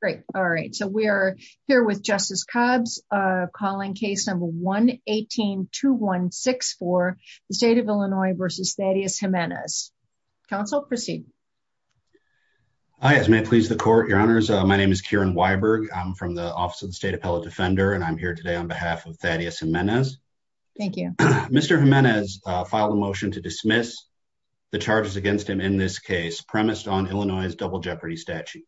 Great, all right, so we are here with Justice Cobbs calling case number 1-18-2164, the State of Illinois v. Thaddeus Jimenez. Counsel proceed. Hi, as may please the court, your honors, my name is Kieran Weiberg, I'm from the Office of the State Appellate Defender and I'm here today on behalf of Thaddeus Jimenez. Thank you. Mr. Jimenez filed a motion to dismiss the charges against him in this case premised on Illinois' Double Jeopardy statute.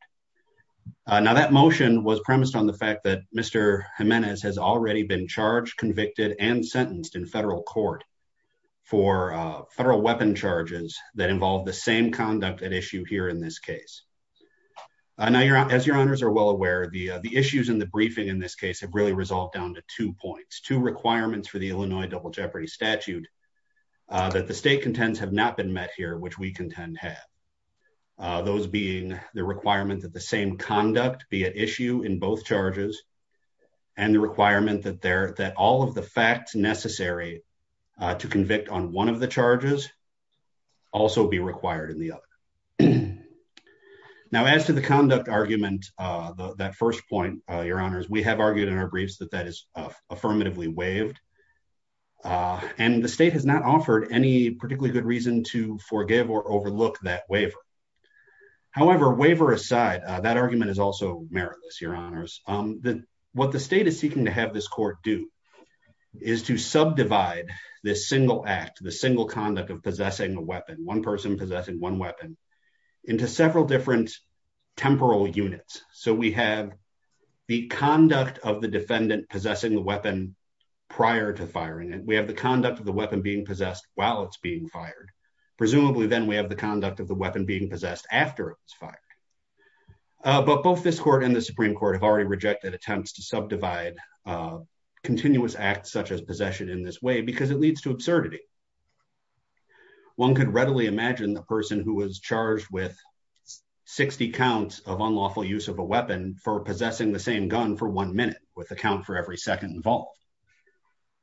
Now that motion was premised on the fact that Mr. Jimenez has already been charged, convicted, and sentenced in federal court for federal weapon charges that involve the same conduct at issue here in this case. As your honors are well aware, the issues in the briefing in this case have really resolved down to two points, two requirements for the Illinois Double Jeopardy statute that the defendant had, those being the requirement that the same conduct be at issue in both charges and the requirement that all of the facts necessary to convict on one of the charges also be required in the other. Now as to the conduct argument, that first point, your honors, we have argued in our briefs that that is affirmatively waived and the state has not offered any particularly good reason to forgive or overlook that waiver. However, waiver aside, that argument is also meritless, your honors. What the state is seeking to have this court do is to subdivide this single act, the single conduct of possessing a weapon, one person possessing one weapon, into several different temporal units. So we have the conduct of the defendant possessing the weapon prior to firing it. We have the conduct of the weapon being possessed while it's being fired. Presumably then we have the conduct of the weapon being possessed after it was fired. But both this court and the Supreme Court have already rejected attempts to subdivide continuous acts such as possession in this way because it leads to absurdity. One could readily imagine the person who was charged with 60 counts of unlawful use of a weapon for possessing the same gun for one minute with a count for every second involved.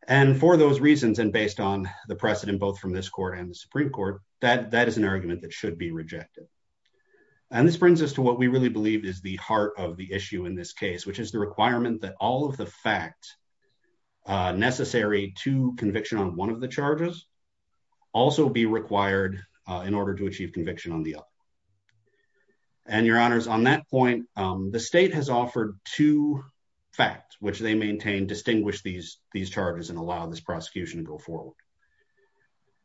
And for those reasons, and based on the precedent both from this court and the Supreme Court, that is an argument that should be rejected. And this brings us to what we really believe is the heart of the issue in this case, which is the requirement that all of the facts necessary to conviction on one of the charges also be required in order to achieve conviction on the other. And your honors, on that point, the state has offered two facts which they maintain and distinguish these charges and allow this prosecution to go forward.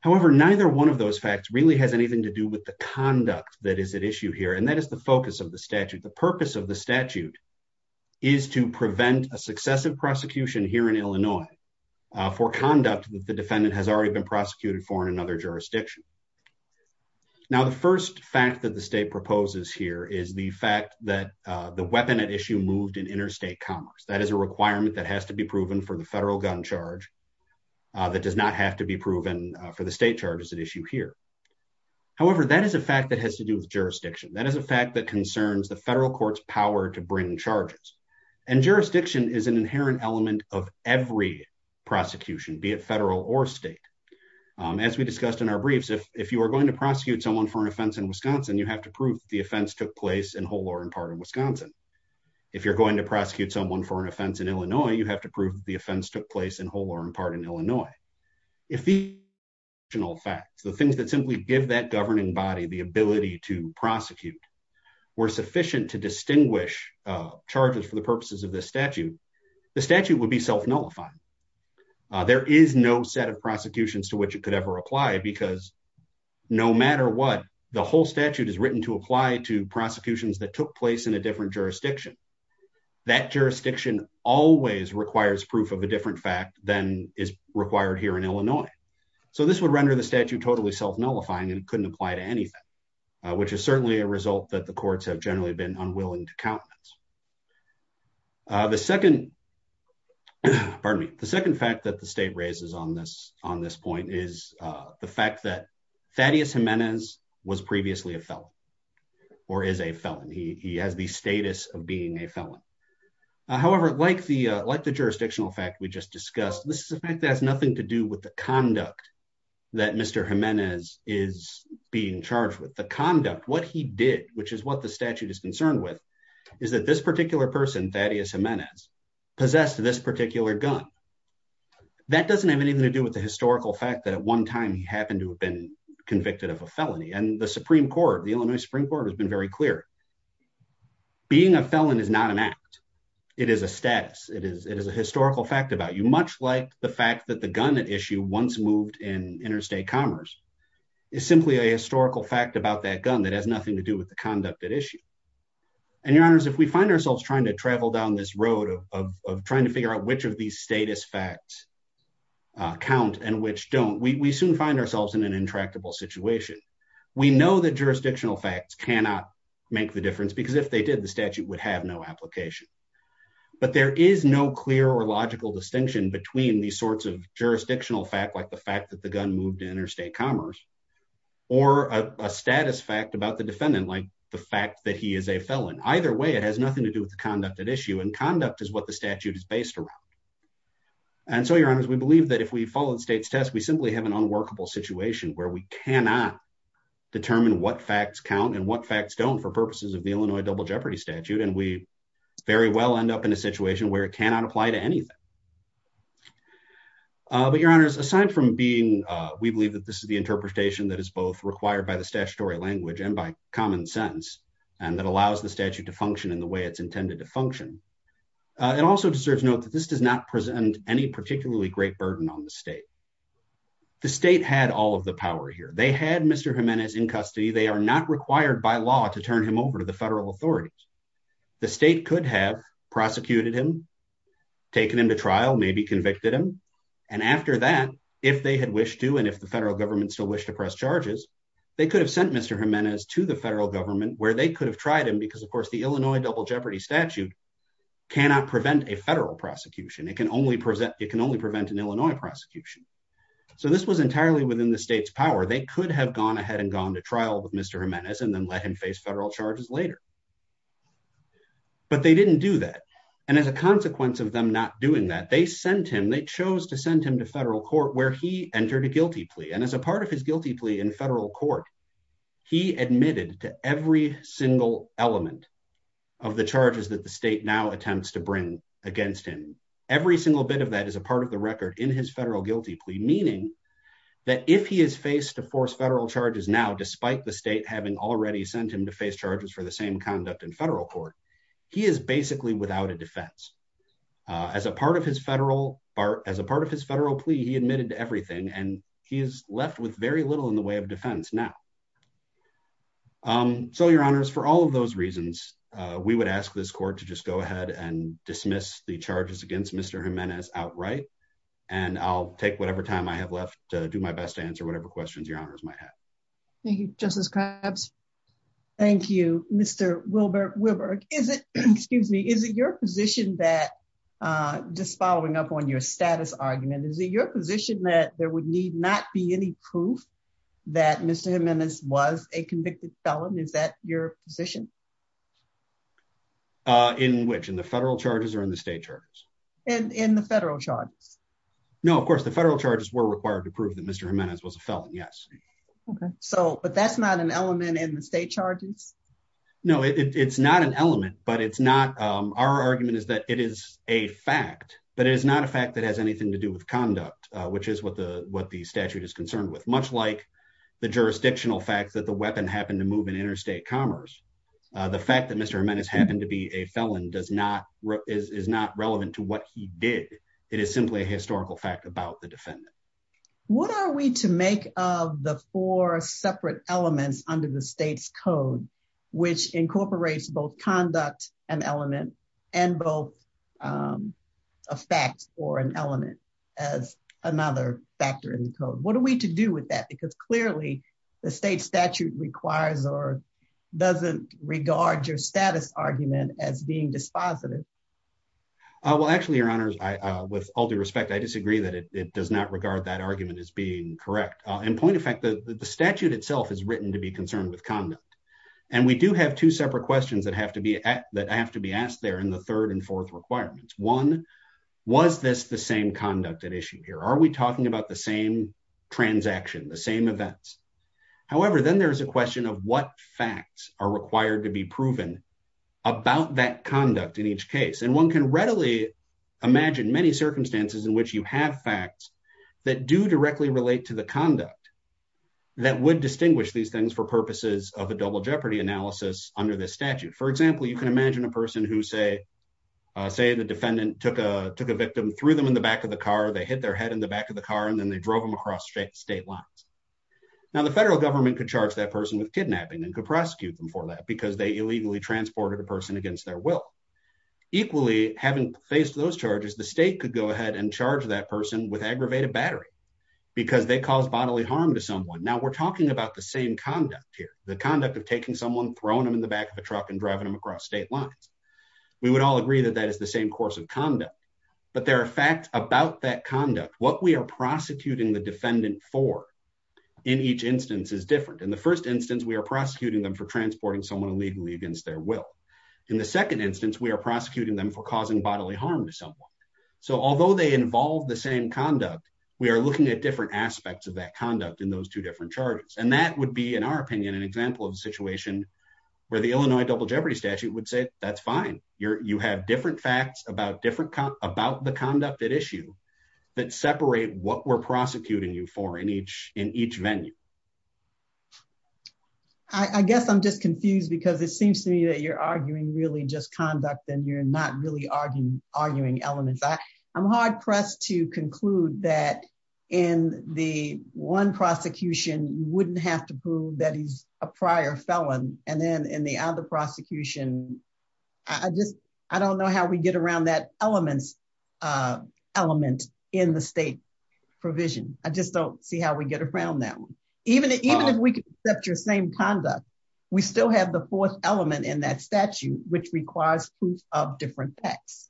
However, neither one of those facts really has anything to do with the conduct that is at issue here. And that is the focus of the statute. The purpose of the statute is to prevent a successive prosecution here in Illinois for conduct that the defendant has already been prosecuted for in another jurisdiction. Now the first fact that the state proposes here is the fact that the weapon at issue moved in interstate commerce. That is a requirement that has to be proven for the federal gun charge that does not have to be proven for the state charges at issue here. However, that is a fact that has to do with jurisdiction. That is a fact that concerns the federal court's power to bring charges. And jurisdiction is an inherent element of every prosecution, be it federal or state. As we discussed in our briefs, if you are going to prosecute someone for an offense in Wisconsin, you have to prove that the offense took place in whole or in part of Wisconsin. If you are going to prosecute someone for an offense in Illinois, you have to prove that the offense took place in whole or in part in Illinois. If the original facts, the things that simply give that governing body the ability to prosecute were sufficient to distinguish charges for the purposes of this statute, the statute would be self-nullifying. There is no set of prosecutions to which it could ever apply because no matter what, the whole statute is written to apply to prosecutions that took place in a different jurisdiction. That jurisdiction always requires proof of a different fact than is required here in Illinois. So, this would render the statute totally self-nullifying and couldn't apply to anything, which is certainly a result that the courts have generally been unwilling to count. The second fact that the state raises on this point is the fact that Thaddeus Jimenez was previously a felon or is a felon. He has the status of being a felon. However, like the jurisdictional fact we just discussed, this is a fact that has nothing to do with the conduct that Mr. Jimenez is being charged with. The conduct, what he did, which is what the statute is concerned with, is that this particular person, Thaddeus Jimenez, possessed this particular gun. That doesn't have anything to do with the historical fact that at one time he happened to have been convicted of a felony. The Supreme Court, the Illinois Supreme Court, has been very clear. Being a felon is not an act. It is a status. It is a historical fact about you, much like the fact that the gun at issue, once moved in interstate commerce, is simply a historical fact about that gun that has nothing to do with the conduct at issue. Your Honors, if we find ourselves trying to travel down this road of trying to figure out which of these status facts count and which don't, we soon find ourselves in an intractable situation. We know that jurisdictional facts cannot make the difference, because if they did, the statute would have no application. But there is no clear or logical distinction between these sorts of jurisdictional facts, like the fact that the gun moved to interstate commerce, or a status fact about the defendant, like the fact that he is a felon. Either way, it has nothing to do with the conduct at issue, and conduct is what the facts are. And so, Your Honors, we believe that if we follow the state's test, we simply have an unworkable situation where we cannot determine what facts count and what facts don't for purposes of the Illinois Double Jeopardy Statute, and we very well end up in a situation where it cannot apply to anything. But Your Honors, aside from being, we believe that this is the interpretation that is both required by the statutory language and by common sense, and that allows the statute to function in the way it's intended to function, it also deserves note that this does not present any particularly great burden on the state. The state had all of the power here. They had Mr. Jimenez in custody. They are not required by law to turn him over to the federal authorities. The state could have prosecuted him, taken him to trial, maybe convicted him. And after that, if they had wished to, and if the federal government still wished to press charges, they could have sent Mr. Jimenez to the federal government, where they could have tried him, because of course the Illinois Double Jeopardy Statute cannot prevent a federal prosecution. It can only prevent an Illinois prosecution. So this was entirely within the state's power. They could have gone ahead and gone to trial with Mr. Jimenez and then let him face federal charges later. But they didn't do that. And as a consequence of them not doing that, they sent him, they chose to send him to federal court where he entered a guilty plea. And as a part of his guilty plea in federal court, he admitted to every single element of the charges that the state now attempts to bring against him. Every single bit of that is a part of the record in his federal guilty plea, meaning that if he is faced to force federal charges now, despite the state having already sent him to face charges for the same conduct in federal court, he is basically without a defense. As a part of his federal plea, he admitted to everything, and he is left with very little in the way of defense now. So, your honors, for all of those reasons, we would ask this court to just go ahead and dismiss the charges against Mr. Jimenez outright. And I'll take whatever time I have left to do my best to answer whatever questions your honors might have. Thank you, Justice Krabs. Thank you, Mr. Wilberg. Wilberg, is it, excuse me, is it your position that, just following up on your status argument, is it your position that there would need not be any proof that Mr. Jimenez was a convicted felon? Is that your position? In which? In the federal charges or in the state charges? In the federal charges. No, of course, the federal charges were required to prove that Mr. Jimenez was a felon, yes. Okay. So, but that's not an element in the state charges? No, it's not an element, but it's not, our argument is that it is a fact, but it is not a fact that has anything to do with conduct, which is what the statute is concerned with. Much like the jurisdictional fact that the weapon happened to move in interstate commerce, the fact that Mr. Jimenez happened to be a felon does not, is not relevant to what he did. It is simply a historical fact about the defendant. What are we to make of the four separate elements under the state's code, which incorporates both conduct and element and both a fact or an element as another factor in the code? What are we to do with that? Because clearly the state statute requires or doesn't regard your status argument as being dispositive. Well, actually, your honors, with all due respect, I disagree that it does not regard that argument as being correct. In point of fact, the statute itself is written to be concerned with conduct. And we do have two separate questions that have to be asked there in the third and fourth requirements. One, was this the same conduct at issue here? Are we talking about the same transaction, the same events? However, then there's a question of what facts are required to be proven about that conduct in each case. And one can readily imagine many circumstances in which you have facts that do directly relate to the conduct that would distinguish these things for purposes of a double jeopardy analysis under this statute. For example, you can imagine a person who say the defendant took a victim, threw them in the back of the car. They hit their head in the back of the car, and then they drove them across state lines. Now, the federal government could charge that person with kidnapping and could prosecute them for that because they illegally transported a person against their will. Equally, having faced those charges, the state could go ahead and charge that person with aggravated battery because they caused bodily harm to someone. Now, we're talking about the same conduct here, the conduct of taking someone, throwing them in the back of a truck, and driving them across state lines. We would all agree that that is the same course of conduct. But there are facts about that conduct. What we are prosecuting the defendant for in each instance is different. In the first instance, we are prosecuting them for transporting someone illegally against their will. In the second instance, we are prosecuting them for causing bodily harm to someone. So, although they involve the same conduct, we are looking at different aspects of that conduct in those two different charges. And that would be, in our opinion, an example of a situation where the Illinois double jeopardy statute would say, that's fine. You have different facts about the conduct at issue that separate what we're prosecuting you for in each venue. I guess I'm just confused because it seems to me that you're arguing really just conduct and you're not really arguing elements. I'm hard pressed to conclude that in the one prosecution, you wouldn't have to prove that he's a prior felon. And then in the other prosecution, I don't know how we get around that element in the state provision. I just don't see how we get around that one. Even if we can accept your same conduct, we still have the fourth element in that statute, which requires proof of different facts.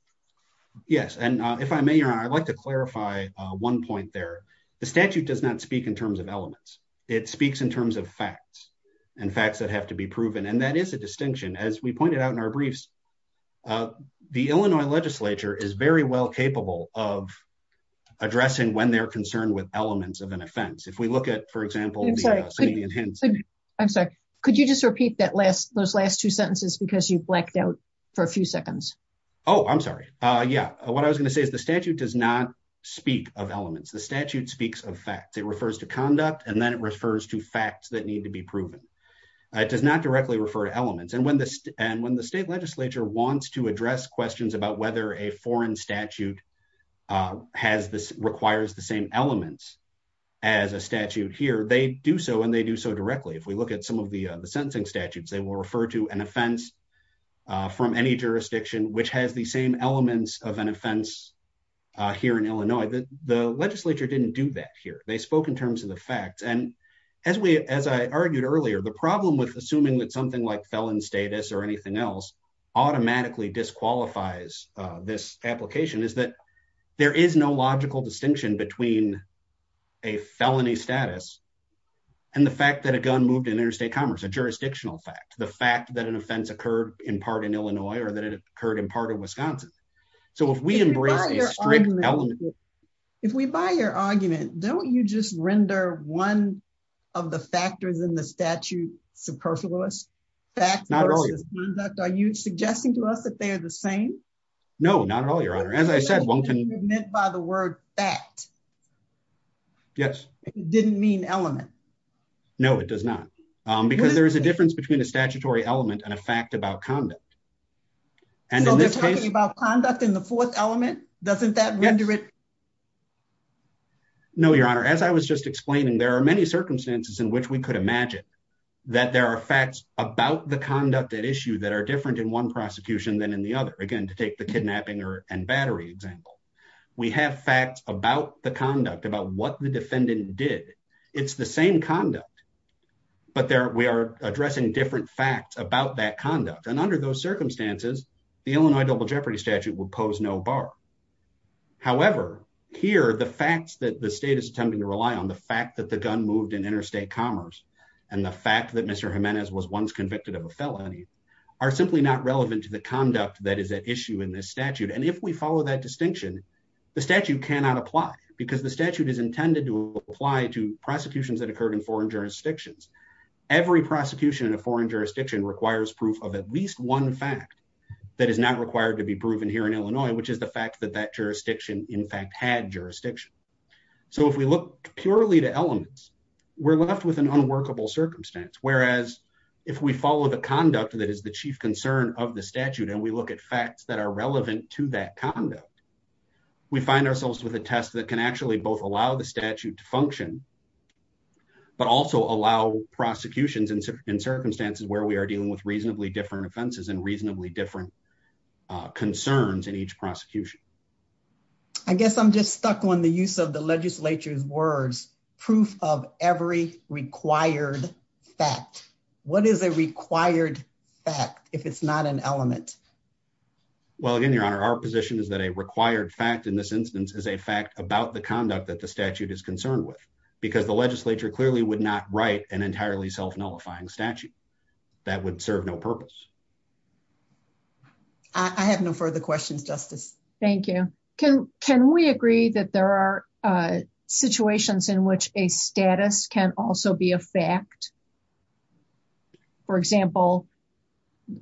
Yes. And if I may, I'd like to clarify one point there. The statute does not speak in terms of elements. It speaks in terms of facts and facts that have to be proven. And that is a distinction. As we pointed out in our briefs, the Illinois legislature is very well capable of addressing when they're concerned with elements of an offense. If we look at, for example, I'm sorry, could you just repeat that last those last two sentences because you blacked out for a few seconds. Oh, I'm sorry. Yeah. What I was going to say is the statute does not speak of elements. The statute speaks of facts. It refers to conduct and then it refers to facts that need to be proven. It does not directly refer to elements. And when the state legislature wants to address questions about whether a foreign statute requires the same elements as a statute here, they do so and they do so directly. If we look at some of the sentencing statutes, they will refer to an offense from any jurisdiction which has the same elements of an offense here in Illinois. The legislature didn't do that here. They spoke in terms of the facts. And as we, as I argued earlier, the problem with assuming that something like felon status or anything else automatically disqualifies this application is that there is no logical distinction between a felony status and the fact that a gun moved in interstate commerce, a jurisdictional fact, the fact that an offense occurred in part in Illinois or that it occurred in part of Wisconsin. So if we embrace a strict element. If we buy your argument, don't you just render one of the factors in the statute superfluous? Facts versus conduct, are you suggesting to us that they are the same? No, not at all, Your Honor. As I said, one can- You meant by the word fact. Yes. It didn't mean element. No, it does not. Because there is a difference between a statutory element and a fact about conduct. So they're talking about conduct in the fourth element? Doesn't that render it- Yes. No, Your Honor. As I was just explaining, there are many circumstances in which we could imagine that there are facts about the conduct at issue that are different in one prosecution than in the other. Again, to take the kidnapping and battery example. We have facts about the conduct, about what the defendant did. It's the same conduct, but we are addressing different facts about that conduct. And under those circumstances, the Illinois double jeopardy statute would pose no bar. However, here, the facts that the state is attempting to rely on, the fact that the gun moved in interstate commerce, and the fact that Mr. Jimenez was once convicted of a felony, are simply not relevant to the conduct that is at issue in this statute. And if we follow that distinction, the statute cannot apply, because the statute is intended to apply to prosecutions that occur in foreign jurisdictions. Every prosecution in a foreign jurisdiction requires proof of at least one fact that is not required to be proven here in Illinois, which is the fact that that jurisdiction, in fact, had jurisdiction. So if we look purely to elements, we're left with an unworkable circumstance. Whereas, if we follow the conduct that is the chief concern of the statute, and we look at facts that are relevant to that conduct, we find ourselves with a test that can actually both allow the statute to function, but also allow prosecutions in circumstances where we are dealing with reasonably different offenses and reasonably different concerns in each prosecution. I guess I'm just stuck on the use of the legislature's words, proof of every required fact. What is a required fact, if it's not an element? Well, again, Your Honor, our position is that a required fact in this instance is a fact about the conduct that the statute is concerned with, because the legislature clearly would not write an entirely self-nullifying statute. That would serve no purpose. I have no further questions, Justice. Thank you. Can we agree that there are situations in which a status can also be a fact? For example,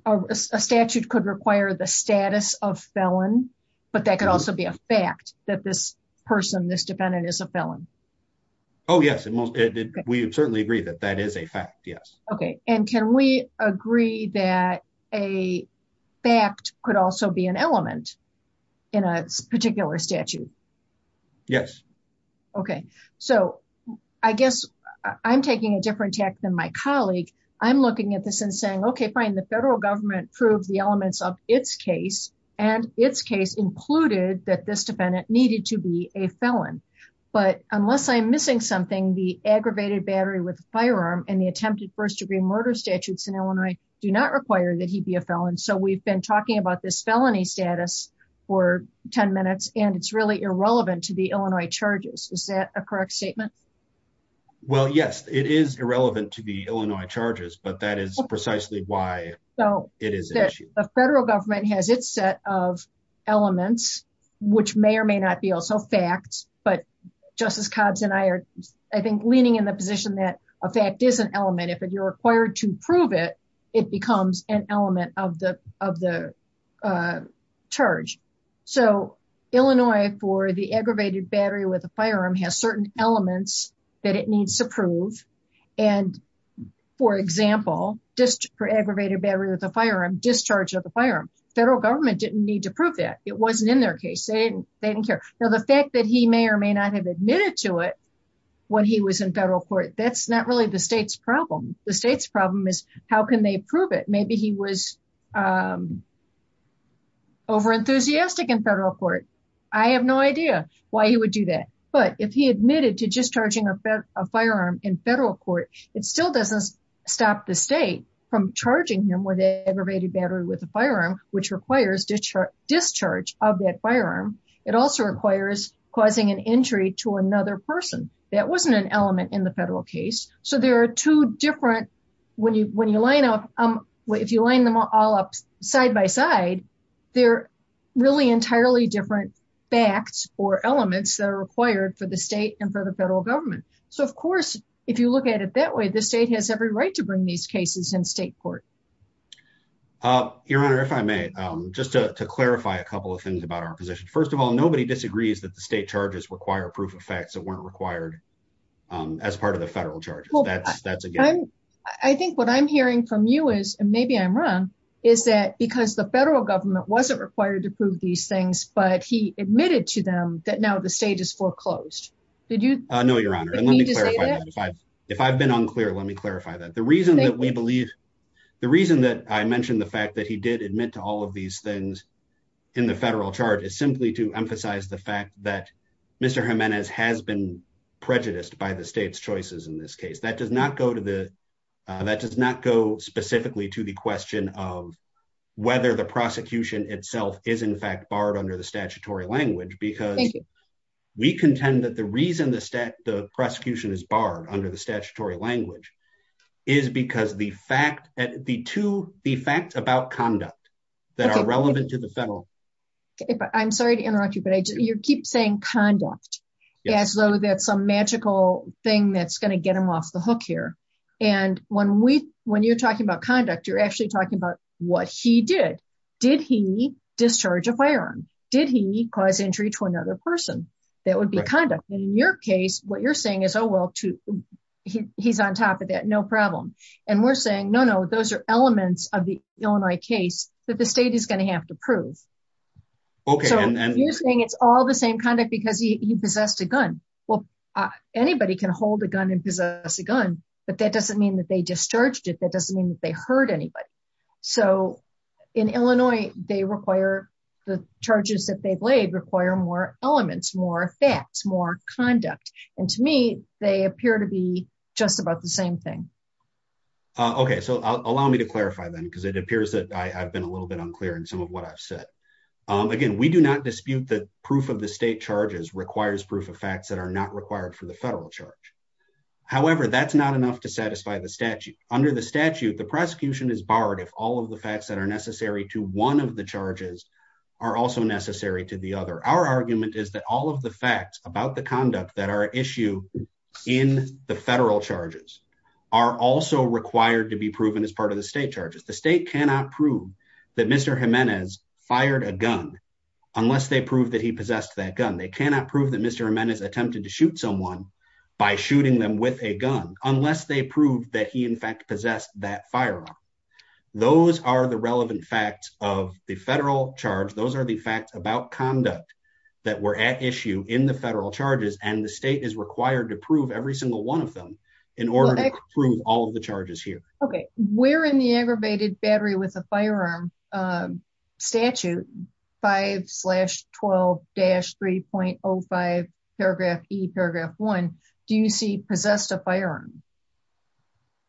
a statute could require the status of felon, but that could also be a fact, that this person, this defendant, is a felon. Oh, yes. We certainly agree that that is a fact, yes. Okay. And can we agree that a fact could also be an element in a particular statute? Yes. Okay. So I guess I'm taking a different tack than my colleague. I'm looking at this and saying, okay, fine, the federal government proved the elements of its case, and its case included that this defendant needed to be a felon. But unless I'm missing something, the aggravated battery with a firearm and the attempted first-degree murder statutes in Illinois do not require that he be a felon. So we've been talking about this felony status for 10 minutes, and it's really irrelevant to the Illinois charges. Is that a correct statement? Well, yes, it is irrelevant to the Illinois charges, but that is precisely why it is an issue. The federal government has its set of elements, which may or may not be also facts, but Justice Cobbs and I are, I think, leaning in the position that a fact is an element. If you're required to prove it, it becomes an element of the charge. So Illinois, for the aggravated battery with a firearm, has certain elements that it needs to prove. For example, just for aggravated battery with a firearm, discharge of the firearm. Federal government didn't need to prove that. It wasn't in their case. They didn't care. Now, the fact that he may or may not have admitted to it when he was in federal court, that's not really the state's problem. The state's problem is how can they prove it? Maybe he was overenthusiastic in federal court. I have no idea why he would do that. But if he admitted to discharging a firearm in federal court, it still doesn't stop the state from charging him with an aggravated battery with a firearm, which requires discharge of that firearm. It also requires causing an injury to another person. That wasn't an element in the federal case. So there are two different, when you line them all up side by side, they're really entirely different facts or elements that are required for the state and for the federal government. So, of course, if you look at it that way, the state has every right to bring these cases in state court. Your Honor, if I may, just to clarify a couple of things about our position. First of all, nobody disagrees that the state charges require proof of facts that weren't required as part of the federal charges. I think what I'm hearing from you is, and maybe I'm wrong, is that because the federal government wasn't required to prove these things, but he admitted to them that now the state is foreclosed. No, Your Honor. If I've been unclear, let me clarify that. The reason that we believe, the reason that I mentioned the fact that he did admit to all of these things in the federal charge is simply to emphasize the fact that Mr. Jimenez has been prejudiced by the state's choices in this case. That does not go to the, that does not go specifically to the question of whether the prosecution itself is in fact barred under the statutory language, because we contend that the reason the prosecution is barred under the statutory language is because the fact that the two, the facts about conduct that are relevant to the federal. I'm sorry to interrupt you, but you keep saying conduct as though that's a magical thing that's going to get him off the hook here. And when we, when you're talking about conduct, you're actually talking about what he did. Did he discharge a firearm? Did he cause injury to another person? That would be conduct. And in your case, what you're saying is, oh, well, he's on top of that. No problem. And we're saying, no, no, those are elements of the Illinois case that the state is going to have to prove. So you're saying it's all the same conduct because he possessed a gun. Well, anybody can hold a gun and possess a gun, but that doesn't mean that they discharged it. That doesn't mean that they hurt anybody. So in Illinois, they require the charges that they've laid require more elements, more facts, more conduct. And to me, they appear to be just about the same thing. OK, so allow me to clarify, then, because it appears that I've been a little bit unclear in some of what I've said. Again, we do not dispute that proof of the state charges requires proof of facts that are not required for the federal charge. However, that's not enough to satisfy the statute. Under the statute, the prosecution is barred if all of the facts that are necessary to one of the charges are also necessary to the other. Our argument is that all of the facts about the conduct that are issue in the federal charges are also required to be proven as part of the state charges. The state cannot prove that Mr. Jimenez fired a gun unless they prove that he possessed that gun. They cannot prove that Mr. Jimenez attempted to shoot someone by shooting them with a gun unless they proved that he, in fact, possessed that firearm. Those are the relevant facts of the federal charge. Those are the facts about conduct that were at issue in the federal charges. And the state is required to prove every single one of them in order to prove all of the charges here. OK, we're in the aggravated battery with a firearm statute 5 slash 12 dash 3.05 paragraph e paragraph one. Do you see possessed a firearm?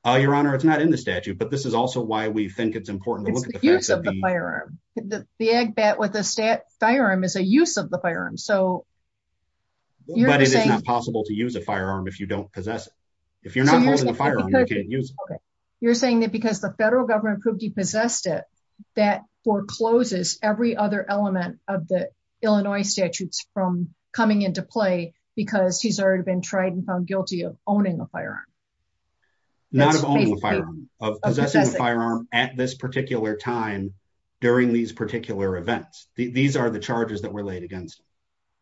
Your Honor, it's not in the statute, but this is also why we think it's important to look at the use of the firearm. The ag bet with a firearm is a use of the firearm. But it is not possible to use a firearm if you don't possess it. If you're not holding a firearm, you can't use it. You're saying that because the federal government proved he possessed it, that forecloses every other element of the Illinois statutes from coming into play because he's already been tried and found guilty of owning a firearm. Not of owning a firearm, of possessing a firearm at this particular time during these particular events. These are the charges that were laid against him.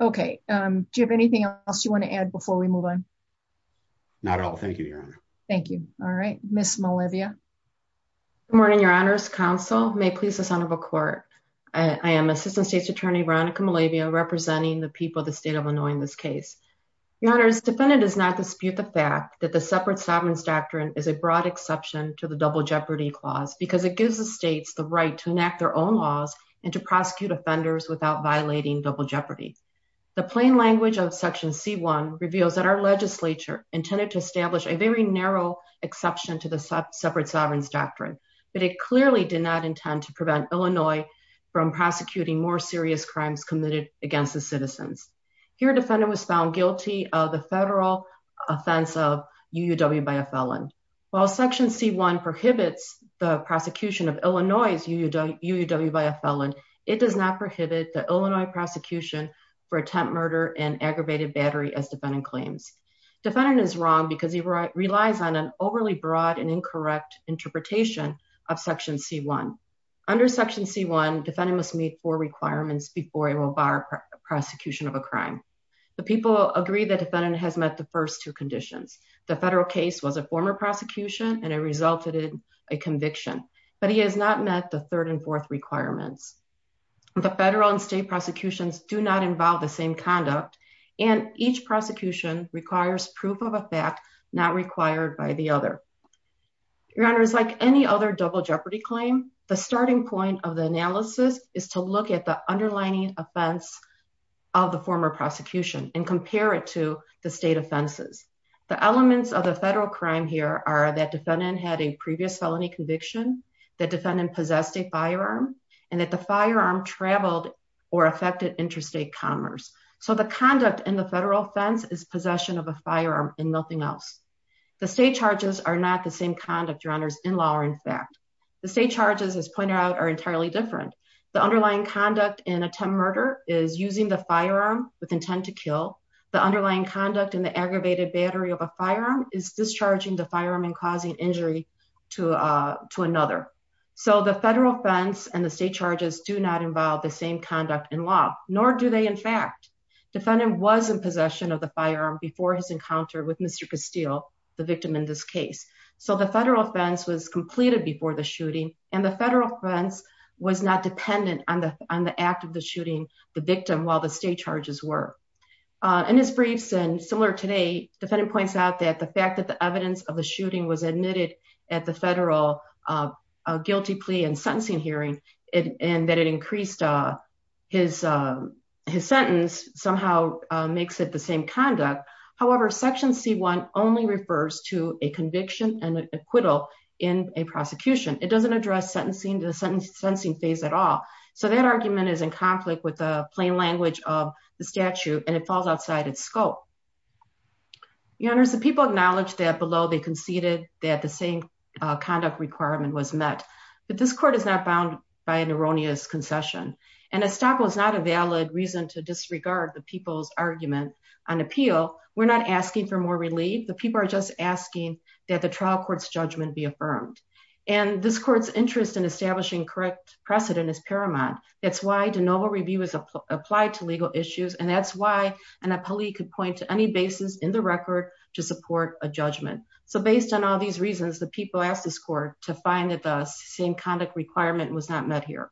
OK, do you have anything else you want to add before we move on? Not at all. Thank you, Your Honor. Thank you. All right. Miss Malivia. Good morning, Your Honors. Counsel, may it please the Son of a Court. I am Assistant State's Attorney Veronica Malivia representing the people of the state of Illinois in this case. Your Honors, defendant does not dispute the fact that the separate sovereigns doctrine is a broad exception to the double jeopardy clause because it gives the states the right to enact their own laws and to prosecute offenders without violating double jeopardy. The plain language of Section C1 reveals that our legislature intended to establish a very narrow exception to the separate sovereigns doctrine. But it clearly did not intend to prevent Illinois from prosecuting more serious crimes committed against the citizens. Here, defendant was found guilty of the federal offense of UUW by a felon. While Section C1 prohibits the prosecution of Illinois' UUW by a felon, it does not prohibit the Illinois prosecution for attempt murder and aggravated battery as defendant claims. Defendant is wrong because he relies on an overly broad and incorrect interpretation of Section C1. Under Section C1, defendant must meet four requirements before he will bar prosecution of a crime. The people agree that defendant has met the first two conditions. The federal case was a former prosecution and it resulted in a conviction, but he has not met the third and fourth requirements. The federal and state prosecutions do not involve the same conduct and each prosecution requires proof of a fact not required by the other. Your Honor, like any other double jeopardy claim, the starting point of the analysis is to look at the underlying offense of the former prosecution and compare it to the state offenses. The elements of the federal crime here are that defendant had a previous felony conviction, that defendant possessed a firearm, and that the firearm traveled or affected interstate commerce. So the conduct in the federal offense is possession of a firearm and nothing else. The state charges are not the same conduct, Your Honor, in law or in fact. The state charges, as pointed out, are entirely different. The underlying conduct in attempt murder is using the firearm with intent to kill. The underlying conduct in the aggravated battery of a firearm is discharging the firearm and causing injury to another. So the federal offense and the state charges do not involve the same conduct in law, nor do they in fact. Defendant was in possession of the firearm before his encounter with Mr. Castile, the victim in this case. So the federal offense was completed before the shooting and the federal offense was not dependent on the on the act of the shooting the victim while the state charges were. In his briefs and similar today, defendant points out that the fact that the evidence of the shooting was admitted at the federal guilty plea and sentencing hearing and that it increased his sentence somehow makes it the same conduct. However, Section C1 only refers to a conviction and acquittal in a prosecution. It doesn't address sentencing to the sentencing phase at all. So that argument is in conflict with the plain language of the statute and it falls outside its scope. You know, there's the people acknowledge that below they conceded that the same conduct requirement was met. But this court is not bound by an erroneous concession and a stop was not a valid reason to disregard the people's argument on appeal. We're not asking for more relief. The people are just asking that the trial court's judgment be affirmed. And this court's interest in establishing correct precedent is paramount. That's why de novo review is applied to legal issues. And that's why an appellee could point to any basis in the record to support a judgment. So based on all these reasons, the people asked this court to find that the same conduct requirement was not met here.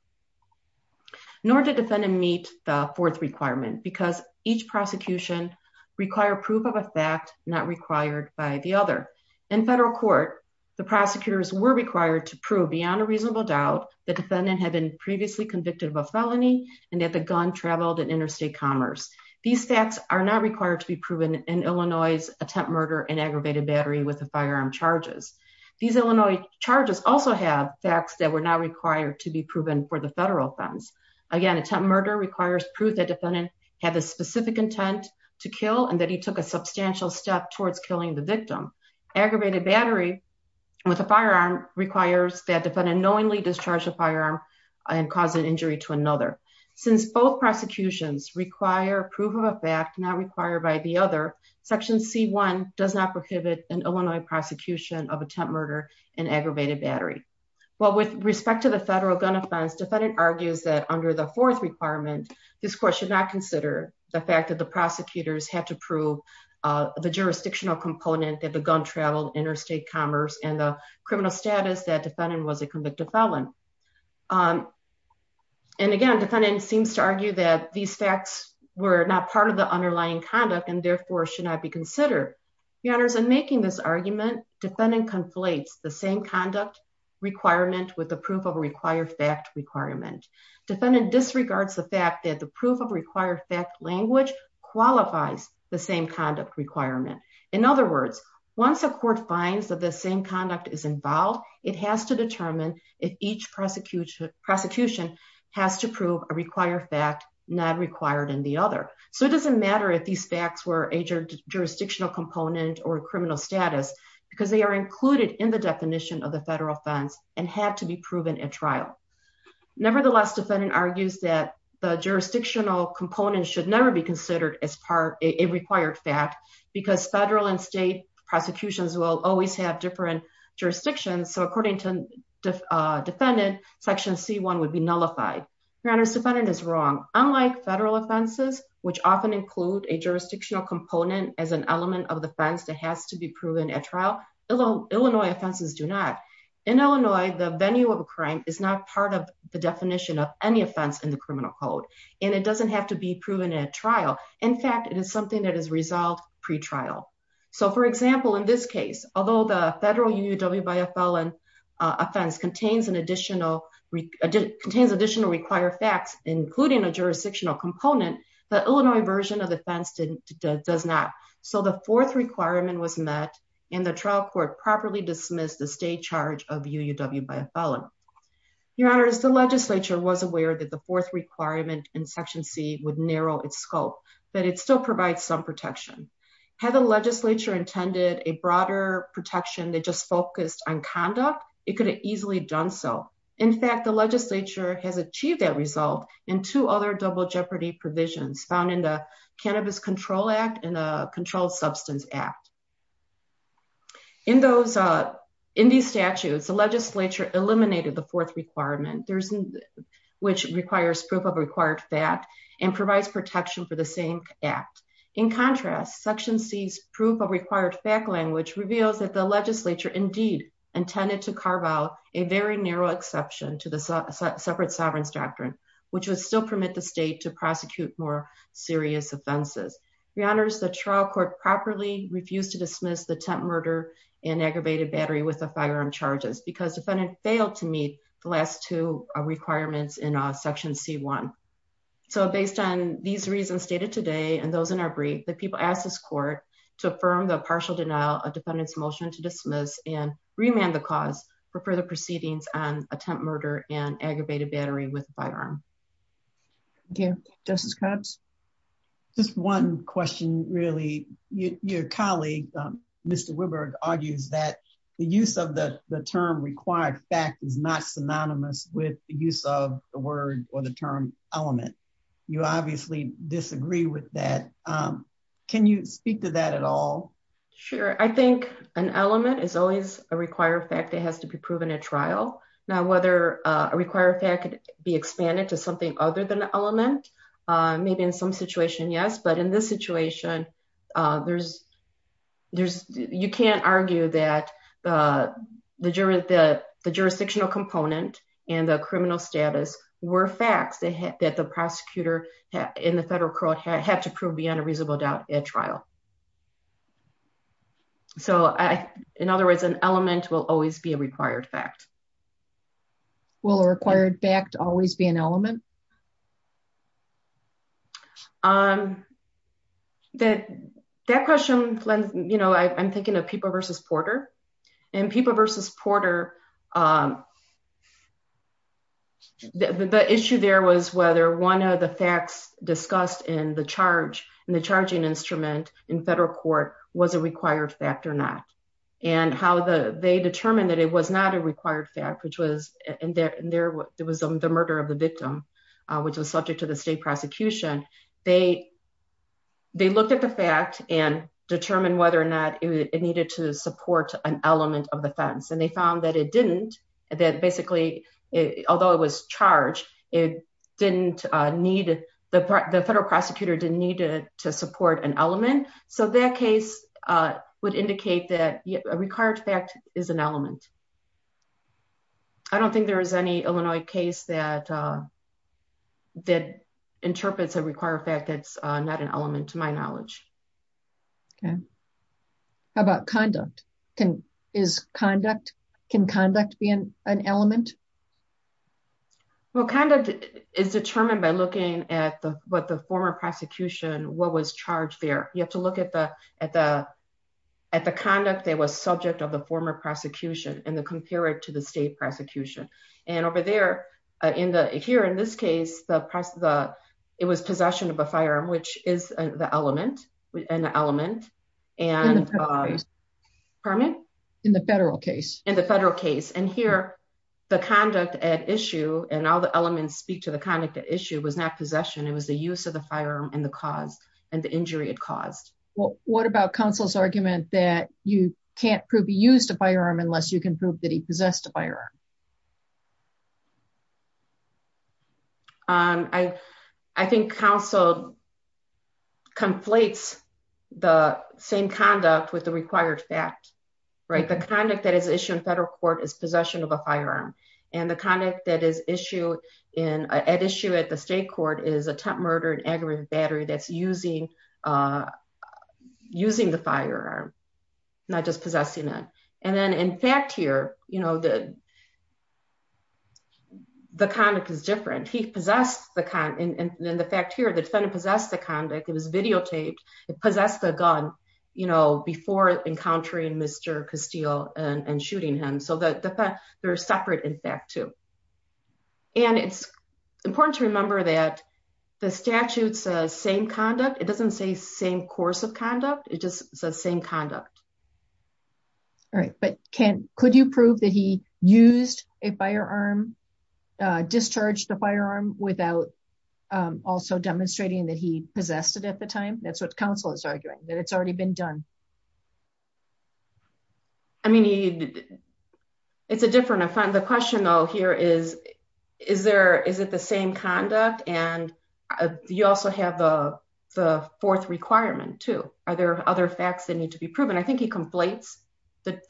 Nor did defendant meet the fourth requirement because each prosecution require proof of a fact not required by the other. In federal court, the prosecutors were required to prove beyond a reasonable doubt that defendant had been previously convicted of a felony and that the gun traveled in interstate commerce. These facts are not required to be proven in Illinois attempt murder and aggravated battery with the firearm charges. These Illinois charges also have facts that were not required to be proven for the federal offense. Again, attempt murder requires proof that defendant had a specific intent to kill and that he took a substantial step towards killing the victim. Aggravated battery with a firearm requires that defendant knowingly discharge a firearm and cause an injury to another. Since both prosecutions require proof of a fact not required by the other, section C1 does not prohibit an Illinois prosecution of attempt murder and aggravated battery. Well, with respect to the federal gun offense, defendant argues that under the fourth requirement, this court should not consider the fact that the prosecutors had to prove the jurisdictional component that the gun traveled interstate commerce and the criminal status that defendant was a convicted felon. And again, defendant seems to argue that these facts were not part of the underlying conduct and therefore should not be considered. Your honors, in making this argument, defendant conflates the same conduct requirement with the proof of required fact requirement. Defendant disregards the fact that the proof of required fact language qualifies the same conduct requirement. In other words, once a court finds that the same conduct is involved, it has to determine if each prosecution has to prove a required fact not required in the other. So it doesn't matter if these facts were a jurisdictional component or criminal status because they are included in the definition of the federal offense and had to be proven at trial. Nevertheless, defendant argues that the jurisdictional component should never be considered as part of a required fact because federal and state prosecutions will always have different jurisdictions. So according to defendant, section C1 would be nullified. Your honors, defendant is wrong. Unlike federal offenses, which often include a jurisdictional component as an element of defense that has to be proven at trial, Illinois offenses do not. In Illinois, the venue of a crime is not part of the definition of any offense in the criminal code, and it doesn't have to be proven at trial. In fact, it is something that is resolved pre-trial. So for example, in this case, although the federal UUW by a felon offense contains additional required facts, including a jurisdictional component, the Illinois version of the offense does not. So the fourth requirement was met and the trial court properly dismissed the state charge of UUW by a felon. Your honors, the legislature was aware that the fourth requirement in section C would narrow its scope, but it still provides some protection. Had the legislature intended a broader protection that just focused on conduct, it could have easily done so. In fact, the legislature has achieved that result in two other double jeopardy provisions found in the Cannabis Control Act and the Controlled Substance Act. In these statutes, the legislature eliminated the fourth requirement, which requires proof of required fact and provides protection for the same act. In contrast, section C's proof of required fact language reveals that the legislature indeed intended to carve out a very narrow exception to the separate sovereigns doctrine, which would still permit the state to prosecute more serious offenses. Your honors, the trial court properly refused to dismiss the attempted murder and aggravated battery with the firearm charges because the defendant failed to meet the last two requirements in section C1. So based on these reasons stated today and those in our brief, the people asked this court to affirm the partial denial of defendant's motion to dismiss and remand the cause for further proceedings on attempt murder and aggravated battery with firearm. Thank you. Justice Cobbs? Just one question, really. Your colleague, Mr. Wiburg, argues that the use of the term required fact is not synonymous with the use of the word or the term element. You obviously disagree with that. Can you speak to that at all? Sure. I think an element is always a required fact that has to be proven at trial. Now, whether a required fact could be expanded to something other than the element, maybe in some situation, yes. But in this situation, you can't argue that the jurisdictional component and the criminal status were facts that the prosecutor in the federal court had to prove beyond a reasonable doubt at trial. So, in other words, an element will always be a required fact. Will a required fact always be an element? That question, you know, I'm thinking of Pippa v. Porter. In Pippa v. Porter, the issue there was whether one of the facts discussed in the charge, in the charging instrument in federal court, was a required fact or not. And how they determined that it was not a required fact, which was the murder of the victim, which was subject to the state prosecution. They looked at the fact and determined whether or not it needed to support an element of the fence. And they found that it didn't, that basically, although it was charged, the federal prosecutor didn't need it to support an element. So that case would indicate that a required fact is an element. I don't think there is any Illinois case that interprets a required fact that's not an element, to my knowledge. Okay. How about conduct? Can conduct be an element? Well, conduct is determined by looking at what the former prosecution, what was charged there. You have to look at the conduct that was subject of the former prosecution and compare it to the state prosecution. And over there, here in this case, it was possession of a firearm, which is an element. In the federal case. In the federal case. And here, the conduct at issue, and all the elements speak to the conduct at issue, was not possession. It was the use of the firearm and the cause and the injury it caused. Well, what about counsel's argument that you can't prove he used a firearm unless you can prove that he possessed a firearm? I think counsel conflates the same conduct with the required fact. The conduct that is issued in federal court is possession of a firearm. And the conduct at issue at the state court is attempt murder and aggravated battery that's using the firearm, not just possessing it. And then in fact here, the conduct is different. And then the fact here, the defendant possessed the conduct, it was videotaped, it possessed the gun, you know, before encountering Mr. Castile and shooting him. So they're separate in fact too. And it's important to remember that the statute says same conduct. It doesn't say same course of conduct. It just says same conduct. All right, but could you prove that he used a firearm, discharged the firearm, without also demonstrating that he possessed it at the time? That's what counsel is arguing, that it's already been done. I mean, it's a different offense. The question though here is, is it the same conduct? And you also have the fourth requirement too. Are there other facts that need to be proven? I think he conflates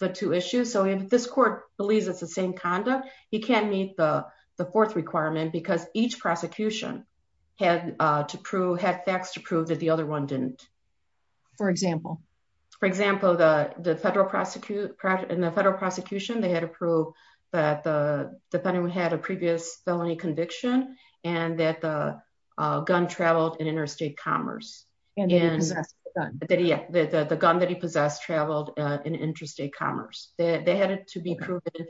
the two issues. So if this court believes it's the same conduct, he can't meet the fourth requirement because each prosecution had facts to prove that the other one didn't. For example? For example, in the federal prosecution, they had to prove that the defendant had a previous felony conviction and that the gun traveled in interstate commerce. The gun that he possessed traveled in interstate commerce. They had it to be proven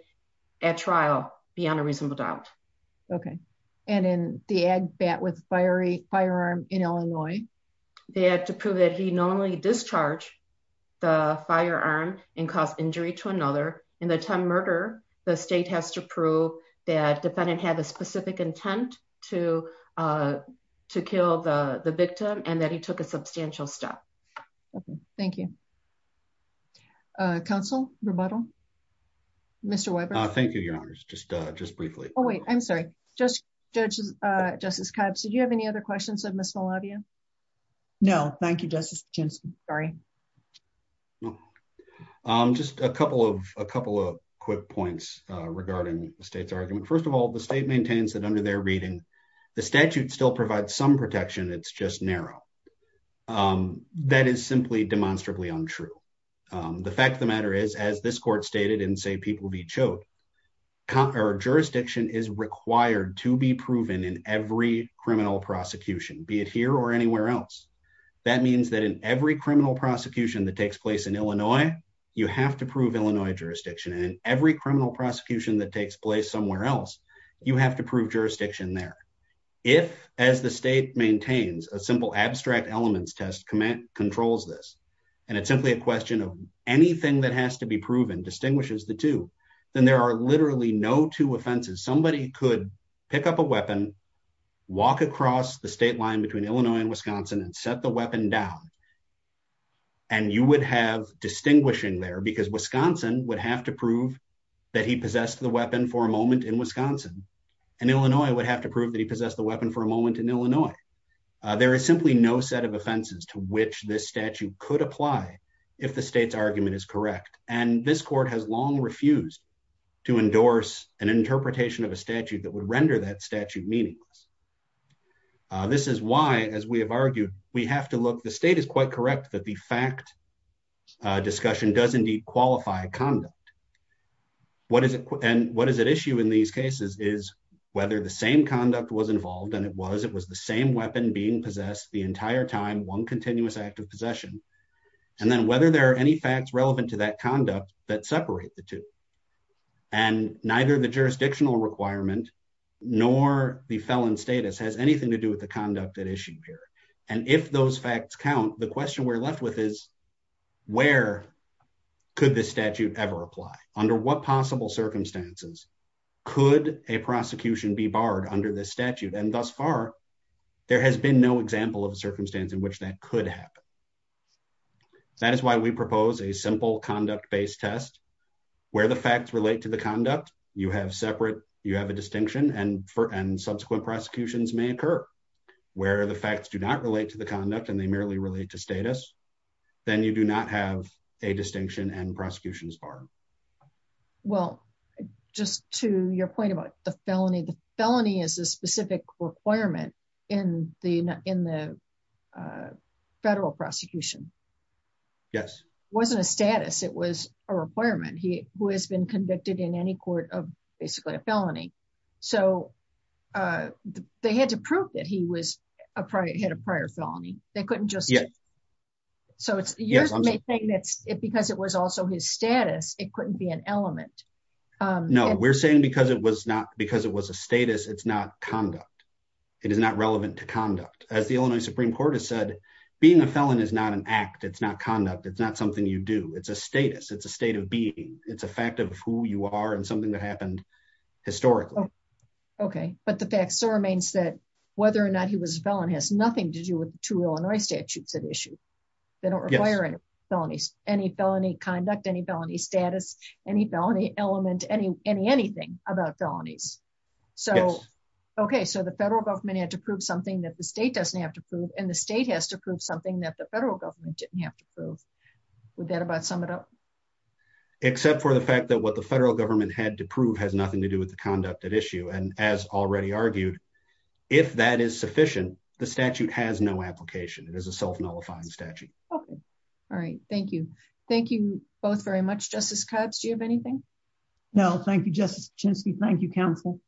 at trial beyond a reasonable doubt. Okay. And in the ag bat with firearm in Illinois? They had to prove that he normally discharged the firearm and caused injury to another. In the time murder, the state has to prove that defendant had a specific intent to kill the victim and that he took a substantial step. Okay, thank you. Counsel, rebuttal? Mr. Weber? Thank you, Your Honors. Just briefly. Oh, wait, I'm sorry. Justice Kibbs, did you have any other questions of Ms. Malavia? No, thank you, Justice Jensen. Sorry. Just a couple of quick points regarding the state's argument. First of all, the state maintains that under their reading, the statute still provides some protection. It's just narrow. That is simply demonstrably untrue. The fact of the matter is, as this court stated in Say People, Be Choked, jurisdiction is required to be proven in every criminal prosecution, be it here or anywhere else. That means that in every criminal prosecution that takes place in Illinois, you have to prove Illinois jurisdiction. And in every criminal prosecution that takes place somewhere else, you have to prove jurisdiction there. If, as the state maintains, a simple abstract elements test controls this, and it's simply a question of anything that has to be proven distinguishes the two, then there are literally no two offenses. Somebody could pick up a weapon, walk across the state line between Illinois and Wisconsin, and set the weapon down. And you would have distinguishing there because Wisconsin would have to prove that he possessed the weapon for a moment in Wisconsin, and Illinois would have to prove that he possessed the weapon for a moment in Illinois. There is simply no set of offenses to which this statute could apply if the state's argument is correct, and this court has long refused to endorse an interpretation of a statute that would render that statute meaningless. This is why, as we have argued, we have to look, the state is quite correct that the fact discussion does indeed qualify conduct. And what is at issue in these cases is whether the same conduct was involved, and it was, it was the same weapon being possessed the entire time, one continuous act of possession. And then whether there are any facts relevant to that conduct that separate the two. And neither the jurisdictional requirement, nor the felon status has anything to do with the conduct that issue here. And if those facts count, the question we're left with is where could this statute ever apply under what possible circumstances. Could a prosecution be barred under this statute and thus far. There has been no example of a circumstance in which that could happen. That is why we propose a simple conduct based test, where the facts relate to the conduct, you have separate, you have a distinction and for and subsequent prosecutions may occur, where the facts do not relate to the conduct and they merely relate to status, then you do not have a distinction and prosecutions bar. Well, just to your point about the felony the felony is a specific requirement in the, in the federal prosecution. Yes, wasn't a status it was a requirement he was been convicted in any court of basically a felony. So, they had to prove that he was a prior hit a prior felony, they couldn't just yet. So it's, it because it was also his status, it couldn't be an element. No, we're saying because it was not because it was a status it's not conduct. It is not relevant to conduct, as the Illinois Supreme Court has said, being a felon is not an act it's not conduct it's not something you do it's a status it's a state of being, it's a fact of who you are and something that happened historically. Okay, but the fact remains that whether or not he was a felon has nothing to do with to Illinois statutes that issue. They don't require any felonies, any felony conduct any felony status, any felony element any any anything about felonies. So, okay so the federal government had to prove something that the state doesn't have to prove and the state has to prove something that the federal government didn't have to prove. Would that about sum it up, except for the fact that what the federal government had to prove has nothing to do with the conduct that issue and as already argued, if that is sufficient, the statute has no application, it is a self nullifying statute. Okay. All right. Thank you. Thank you both very much justice cuts do you have anything. No, thank you, just chance to thank you counsel.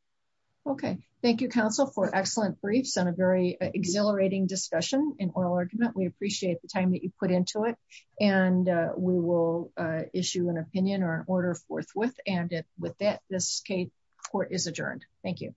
Okay, thank you counsel for excellent briefs and a very exhilarating discussion in order to that we appreciate the time that you put into it, and we will issue an opinion or an order forthwith, and with that, this case court is adjourned. Thank you.